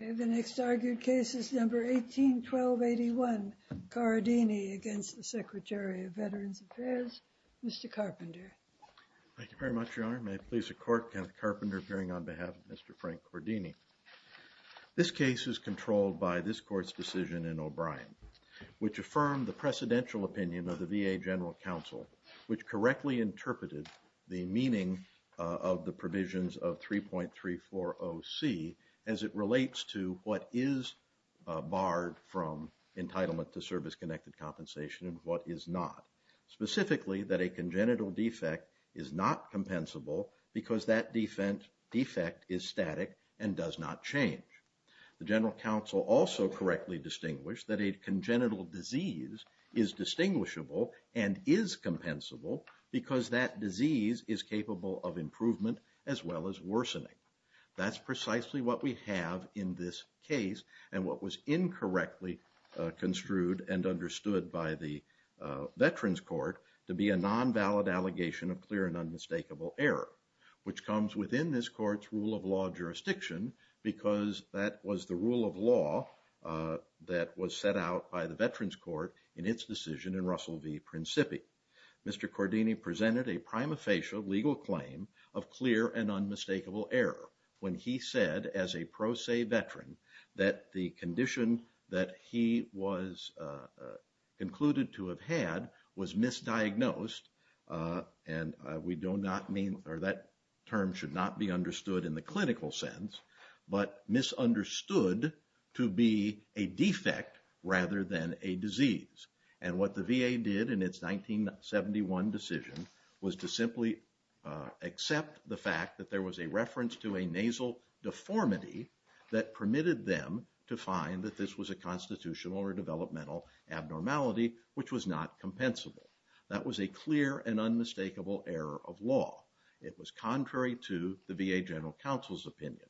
The next argued case is No. 18-1281, Corradini v. Secretary of Veterans Affairs, Mr. Carpenter. Thank you very much, Your Honor. May it please the Court, Kenneth Carpenter appearing on behalf of Mr. Frank Corradini. This case is controlled by this Court's decision in O'Brien, which affirmed the precedential opinion of the VA General Counsel, which correctly interpreted the meaning of the provisions of 3.340C as it relates to what is barred from entitlement to service-connected compensation and what is not. Specifically, that a congenital defect is not compensable because that defect is static and does not change. The General Counsel also correctly distinguished that a congenital disease is distinguishable and is compensable because that disease is capable of improvement as well as worsening. That's precisely what we have in this case and what was incorrectly construed and understood by the Veterans Court to be a non-valid allegation of clear and unmistakable error, which comes within this Court's rule of law jurisdiction because that was the rule of law that was set out by the Veterans Court in its decision in Russell v. Principi. Mr. Corradini presented a prima facie legal claim of clear and unmistakable error when he said as a pro se veteran that the condition that he was concluded to have had was misdiagnosed and that term should not be understood in the clinical sense, but misunderstood to be a defect rather than a disease. And what the VA did in its 1971 decision was to simply accept the fact that there was a reference to a nasal deformity that permitted them to find that this was a constitutional or developmental abnormality, which was not compensable. That was a clear and unmistakable error of law. It was contrary to the VA General Counsel's opinion.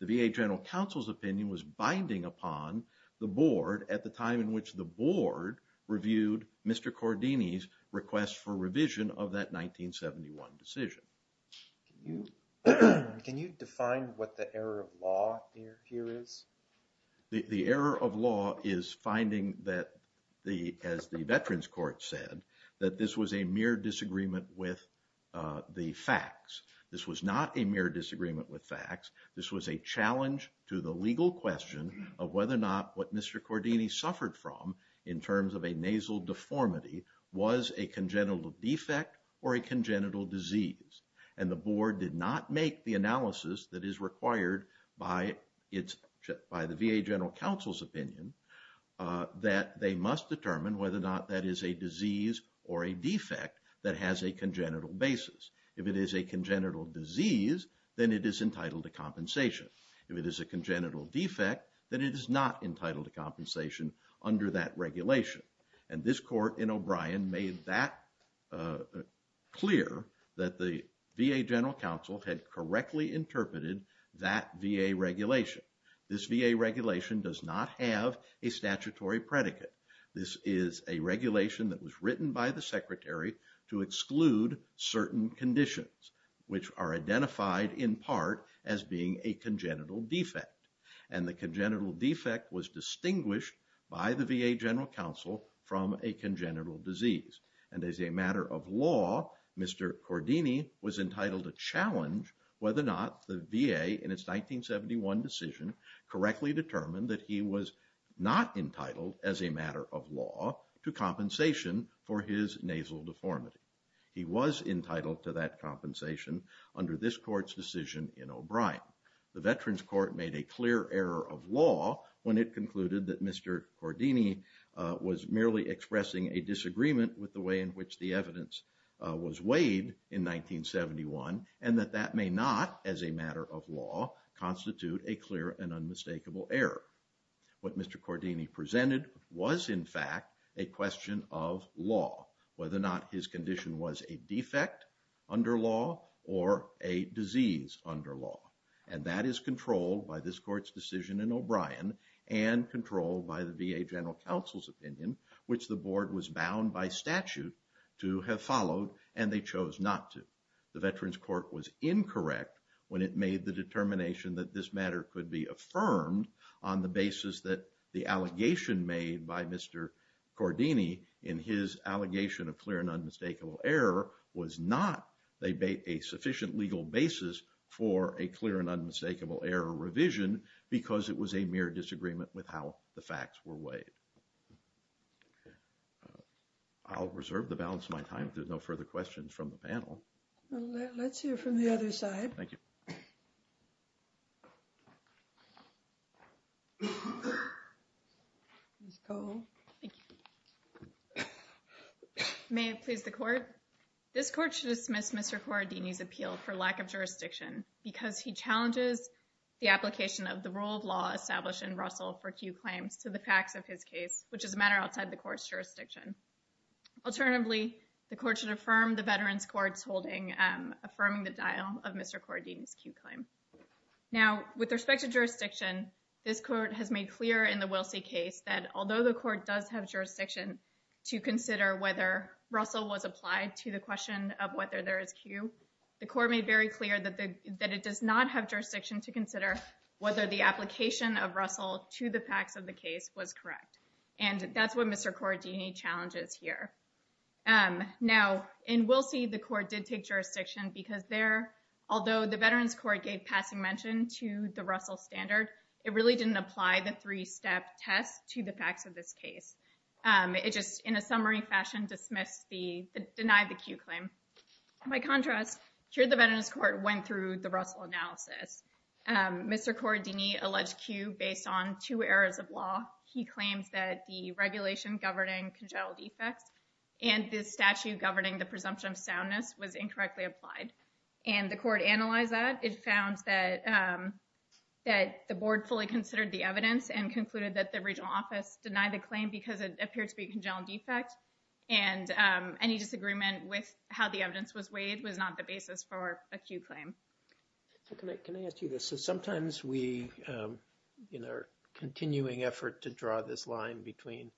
The VA General Counsel's opinion was binding upon the Board at the time in which the Board reviewed Mr. Corradini's request for revision of that 1971 decision. Can you define what the error of law here is? The error of law is finding that, as the Veterans Court said, that this was a mere disagreement with the facts. This was not a mere disagreement with facts. This was a challenge to the legal question of whether or not what Mr. Corradini suffered from in terms of a nasal deformity was a congenital defect or a congenital disease. And the Board did not make the analysis that is required by the VA General Counsel's opinion that they must determine whether or not that is a disease or a defect that has a congenital basis. If it is a congenital disease, then it is entitled to compensation. If it is a congenital defect, then it is not entitled to compensation under that regulation. And this Court in O'Brien made that clear that the VA General Counsel had correctly interpreted that VA regulation. This VA regulation does not have a statutory predicate. This is a regulation that was written by the Secretary to exclude certain conditions, which are identified in part as being a congenital defect. And the congenital defect was distinguished by the VA General Counsel from a congenital disease. And as a matter of law, Mr. Corradini was entitled to challenge whether or not the VA, in its 1971 decision, correctly determined that he was not entitled, as a matter of law, to compensation for his nasal deformity. He was entitled to that compensation under this Court's decision in O'Brien. The Veterans Court made a clear error of law when it concluded that Mr. Corradini was merely expressing a disagreement with the way in which the evidence was weighed in 1971, and that that may not, as a matter of law, constitute a clear and unmistakable error. What Mr. Corradini presented was, in fact, a question of law. Whether or not his condition was a defect under law or a disease under law. And that is controlled by this Court's decision in O'Brien and controlled by the VA General Counsel's opinion, which the Board was bound by statute to have followed and they chose not to. The Veterans Court was incorrect when it made the determination that this matter could be affirmed on the basis that the allegation made by Mr. Corradini, in his allegation of clear and unmistakable error, was not a sufficient legal basis for a clear and unmistakable error revision because it was a mere disagreement with how the facts were weighed. I'll reserve the balance of my time. There's no further questions from the panel. Well, let's hear from the other side. Thank you. Ms. Cole. Thank you. May it please the Court. This Court should dismiss Mr. Corradini's appeal for lack of jurisdiction because he challenges the application of the rule of law established in Russell for Q claims to the facts of his case, which is a matter outside the Court's jurisdiction. Alternatively, the Court should affirm the Veterans Court's holding, affirming the dial of Mr. Corradini's Q claim. Now, with respect to jurisdiction, this Court has made clear in the Wilsey case that, although the Court does have jurisdiction to consider whether Russell was applied to the question of whether there is Q, the Court made very clear that it does not have jurisdiction to consider whether the application of Russell to the facts of the case was correct. And that's what Mr. Corradini challenges here. Now, in Wilsey, the Court did take jurisdiction because there, although the Veterans Court gave passing mention to the Russell standard, it really didn't apply the three-step test to the facts of this case. It just, in a summary fashion, denied the Q claim. By contrast, here the Veterans Court went through the Russell analysis. Mr. Corradini alleged Q based on two errors of law. He claims that the regulation governing congenital defects and the statute governing the presumption of soundness was incorrectly applied. And the Court analyzed that. It found that the Board fully considered the evidence and concluded that the regional office denied the claim because it appeared to be a congenital defect. And any disagreement with how the evidence was weighed was not the basis for a Q claim. Can I ask you this? Sometimes we, in our continuing effort to draw this line between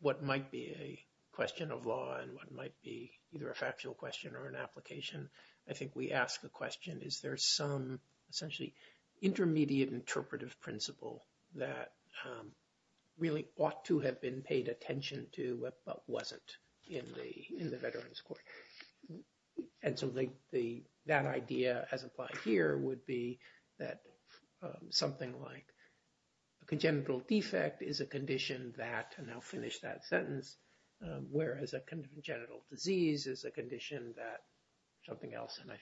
what might be a question of law and what might be either a factual question or an application, I think we ask the question, is there some essentially intermediate interpretive principle that really ought to have been paid attention to but wasn't in the Veterans Court? And so that idea as applied here would be that something like a congenital defect is a condition that, and I'll finish that sentence, whereas a congenital disease is a condition that something else, and I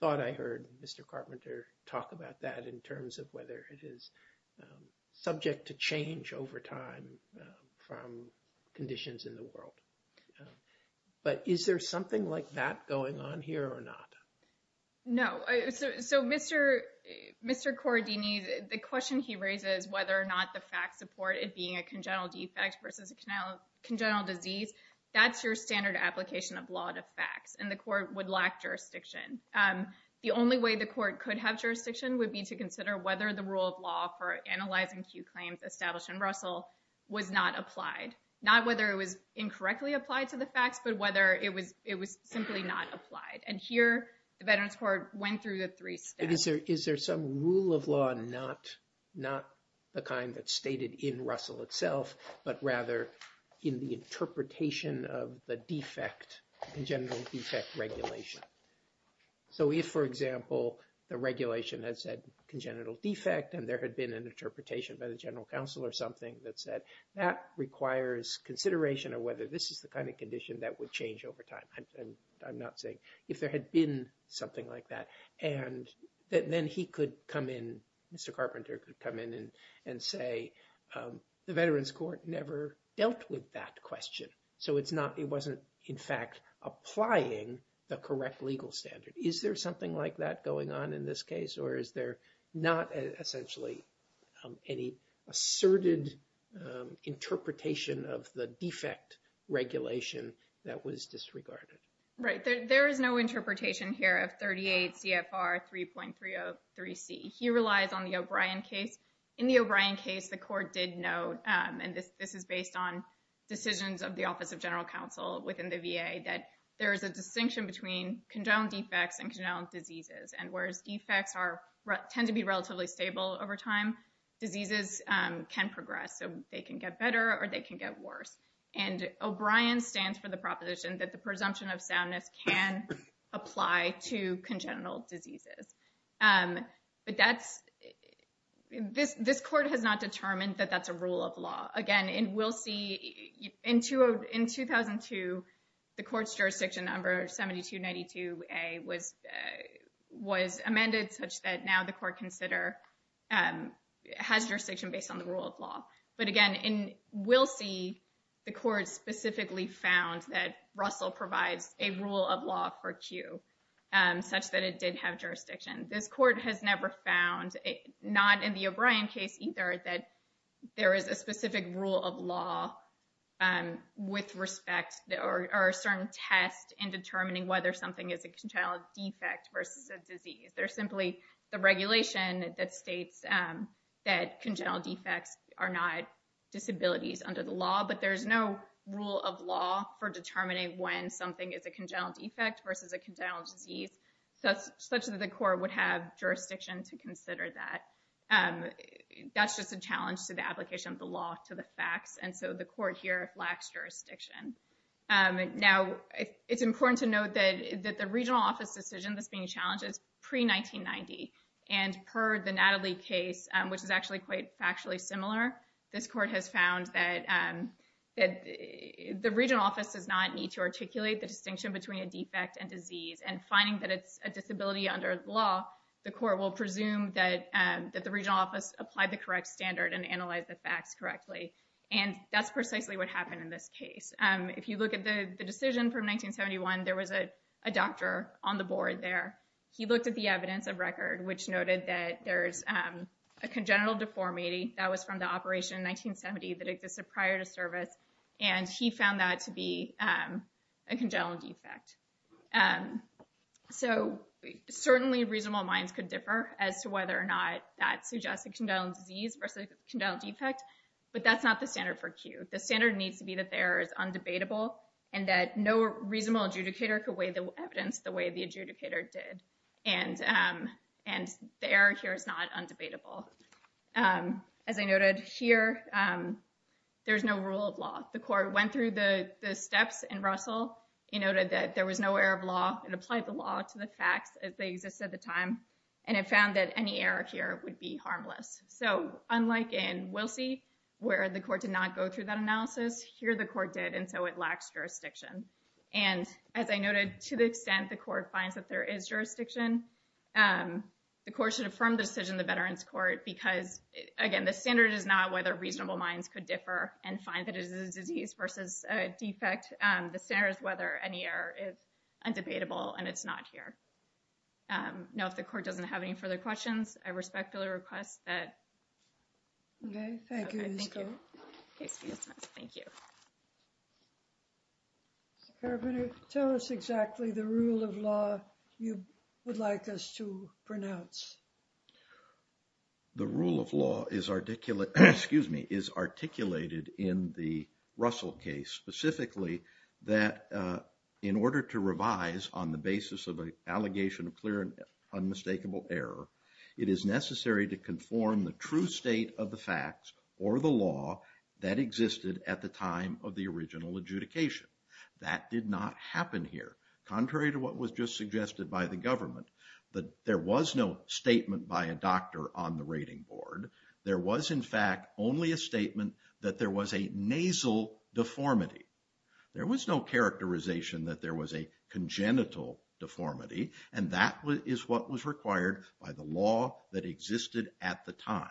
thought I heard Mr. Carpenter talk about that in terms of whether it is subject to change over time from conditions in the world. But is there something like that going on here or not? No. So Mr. Corradini, the question he raises, whether or not the facts support it being a congenital defect versus a congenital disease, that's your standard application of law to facts, and the court would lack jurisdiction. The only way the court could have jurisdiction would be to consider whether the rule of law for analyzing Q claims established in Russell was not applied, not whether it was incorrectly applied to the facts but whether it was simply not applied. And here the Veterans Court went through the three steps. Is there some rule of law not the kind that's stated in Russell itself but rather in the interpretation of the defect, congenital defect regulation? So if, for example, the regulation has said congenital defect and there had been an interpretation by the general counsel or something that said that requires consideration of whether this is the kind of condition that would change over time. I'm not saying. If there had been something like that and then he could come in, Mr. Carpenter could come in and say the Veterans Court never dealt with that question. So it wasn't, in fact, applying the correct legal standard. Is there something like that going on in this case or is there not essentially any asserted interpretation of the defect regulation that was disregarded? Right. There is no interpretation here of 38 CFR 3.303C. He relies on the O'Brien case. In the O'Brien case, the court did note, and this is based on decisions of the Office of General Counsel within the VA, that there is a distinction between congenital defects and congenital diseases. And whereas defects tend to be relatively stable over time, diseases can progress. So they can get better or they can get worse. And O'Brien stands for the proposition that the presumption of soundness can apply to congenital diseases. But this court has not determined that that's a rule of law. Again, in We'll See, in 2002, the court's jurisdiction number, 7292A, was amended such that now the court has jurisdiction based on the rule of law. But again, in We'll See, the court specifically found that Russell provides a rule of law for Q, such that it did have jurisdiction. This court has never found, not in the O'Brien case either, that there is a specific rule of law with respect or a certain test in determining whether something is a congenital defect versus a disease. There's simply the regulation that states that congenital defects are not disabilities under the law, but there's no rule of law for determining when something is a congenital defect versus a congenital disease, such that the court would have jurisdiction to consider that. That's just a challenge to the application of the law to the facts. And so the court here lacks jurisdiction. Now, it's important to note that the regional office decision that's being challenged is pre-1990. And per the Natalie case, which is actually quite factually similar, this court has found that the regional office does not need to articulate the distinction between a defect and disease and finding that it's a disability under the law, the court will presume that the regional office applied the correct standard and analyzed the facts correctly. And that's precisely what happened in this case. If you look at the decision from 1971, there was a doctor on the board there. He looked at the evidence of record, which noted that there's a congenital deformity. That was from the operation in 1970 that existed prior to service. And he found that to be a congenital defect. So certainly reasonable minds could differ as to whether or not that suggests a congenital disease versus a congenital defect. But that's not the standard for Q. The standard needs to be that the error is undebatable and that no reasonable adjudicator could weigh the evidence the way the adjudicator did. And the error here is not undebatable. As I noted here, there's no rule of law. The court went through the steps in Russell. It noted that there was no error of law. It applied the law to the facts as they existed at the time. And it found that any error here would be harmless. So unlike in Wilsey, where the court did not go through that analysis, here the court did, and so it lacks jurisdiction. And as I noted, to the extent the court finds that there is jurisdiction, the court should affirm the decision in the Veterans Court. Because, again, the standard is not whether reasonable minds could differ and find that it is a disease versus a defect. The standard is whether any error is undebatable, and it's not here. Now, if the court doesn't have any further questions, I respectfully request that... Mr. Carabinieri, tell us exactly the rule of law you would like us to pronounce. The rule of law is articulated in the Russell case, specifically that in order to revise on the basis of an allegation of clear and unmistakable error, it is necessary to conform the true state of the facts or the law that existed at the time of the original adjudication. That did not happen here. Contrary to what was just suggested by the government, there was no statement by a doctor on the rating board. There was, in fact, only a statement that there was a nasal deformity. There was no characterization that there was a congenital deformity, and that is what was required by the law that existed at the time.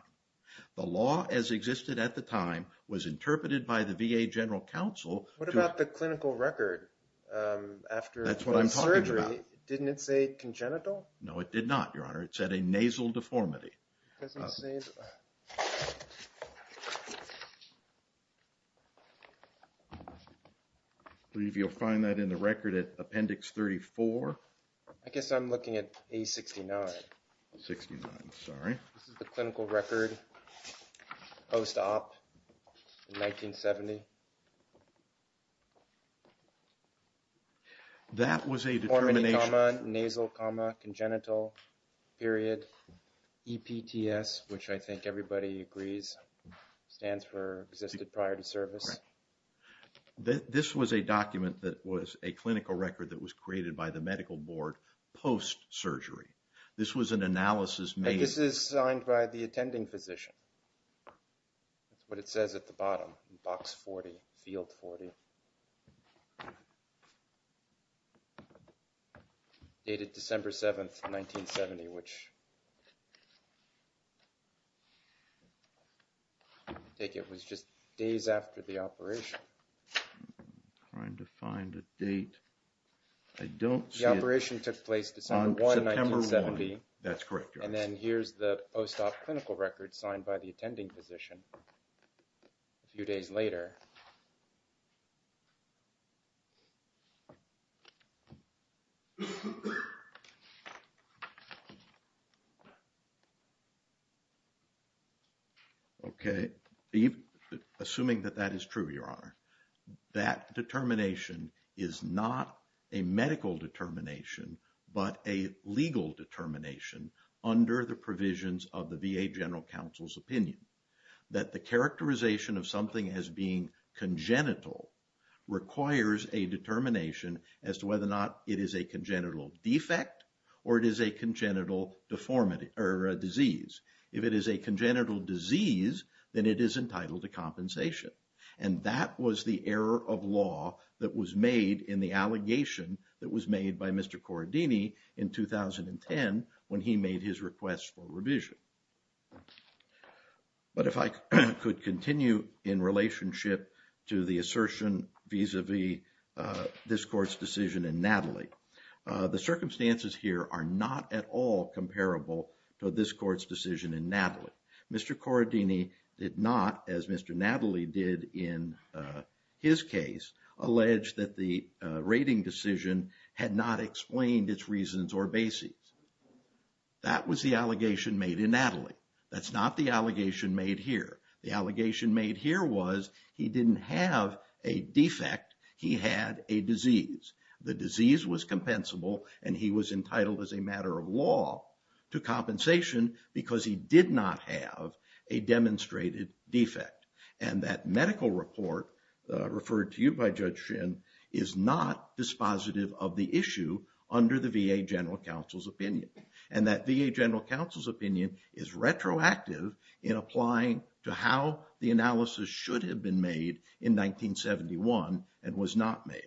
The law as existed at the time was interpreted by the VA General Counsel... What about the clinical record? That's what I'm talking about. Didn't it say congenital? No, it did not, Your Honor. It said a nasal deformity. It doesn't say... I believe you'll find that in the record at Appendix 34. I guess I'm looking at A69. 69, sorry. This is the clinical record post-op in 1970. That was a determination... EPTS, which I think everybody agrees stands for Existed Prior to Service. This was a document that was a clinical record that was created by the medical board post-surgery. This was an analysis made... I guess it's signed by the attending physician. That's what it says at the bottom, Box 40, Field 40. Dated December 7, 1970, which I take it was just days after the operation. I'm trying to find a date. I don't see it. The operation took place December 1, 1970. That's correct, Your Honor. And then here's the post-op clinical record signed by the attending physician a few days later. Okay. Assuming that that is true, Your Honor, that determination is not a medical determination, but a legal determination under the provisions of the VA General Counsel's opinion. That the characterization of something as being congenital requires a determination as to whether or not it is a congenital defect or it is a congenital disease. If it is a congenital disease, then it is entitled to compensation. And that was the error of law that was made in the allegation that was made by Mr. Corradini in 2010 when he made his request for revision. But if I could continue in relationship to the assertion vis-a-vis this court's decision in Natalie. The circumstances here are not at all comparable to this court's decision in Natalie. Mr. Corradini did not, as Mr. Natalie did in his case, allege that the rating decision had not explained its reasons or basis. That was the allegation made in Natalie. That's not the allegation made here. The allegation made here was he didn't have a defect. He had a disease. The disease was compensable and he was entitled as a matter of law to compensation because he did not have a demonstrated defect. And that medical report, referred to you by Judge Shin, is not dispositive of the issue under the VA General Counsel's opinion. And that VA General Counsel's opinion is retroactive in applying to how the analysis should have been made in 1971 and was not made.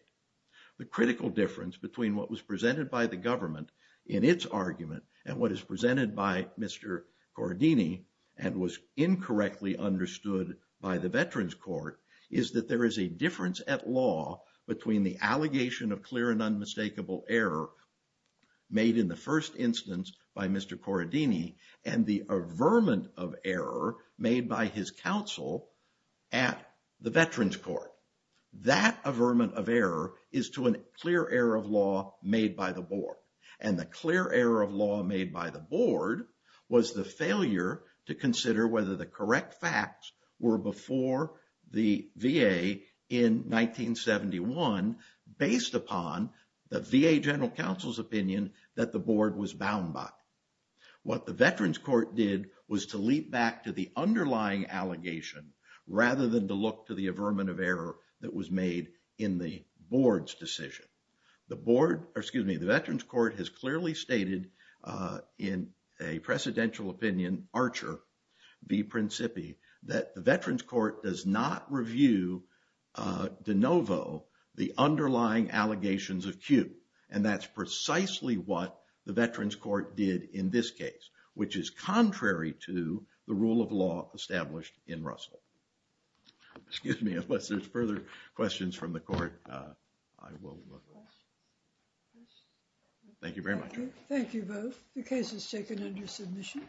The critical difference between what was presented by the government in its argument and what is presented by Mr. Corradini and was incorrectly understood by the Veterans Court is that there is a difference at law between the allegation of clear and unmistakable error made in the first instance by Mr. Corradini and the averment of error made by his counsel at the Veterans Court. That averment of error is to a clear error of law made by the board. And the clear error of law made by the board was the failure to consider whether the correct facts were before the VA in 1971 based upon the VA General Counsel's opinion that the board was bound by. What the Veterans Court did was to leap back to the underlying allegation rather than to look to the averment of error that was made in the board's decision. The board, or excuse me, the Veterans Court has clearly stated in a precedential opinion, Archer v. Principi, that the Veterans Court does not review de novo the underlying allegations of Q. And that's precisely what the Veterans Court did in this case which is contrary to the rule of law established in Russell. Excuse me, unless there's further questions from the court, I will move on. Thank you very much. Thank you both. The case is taken under submission.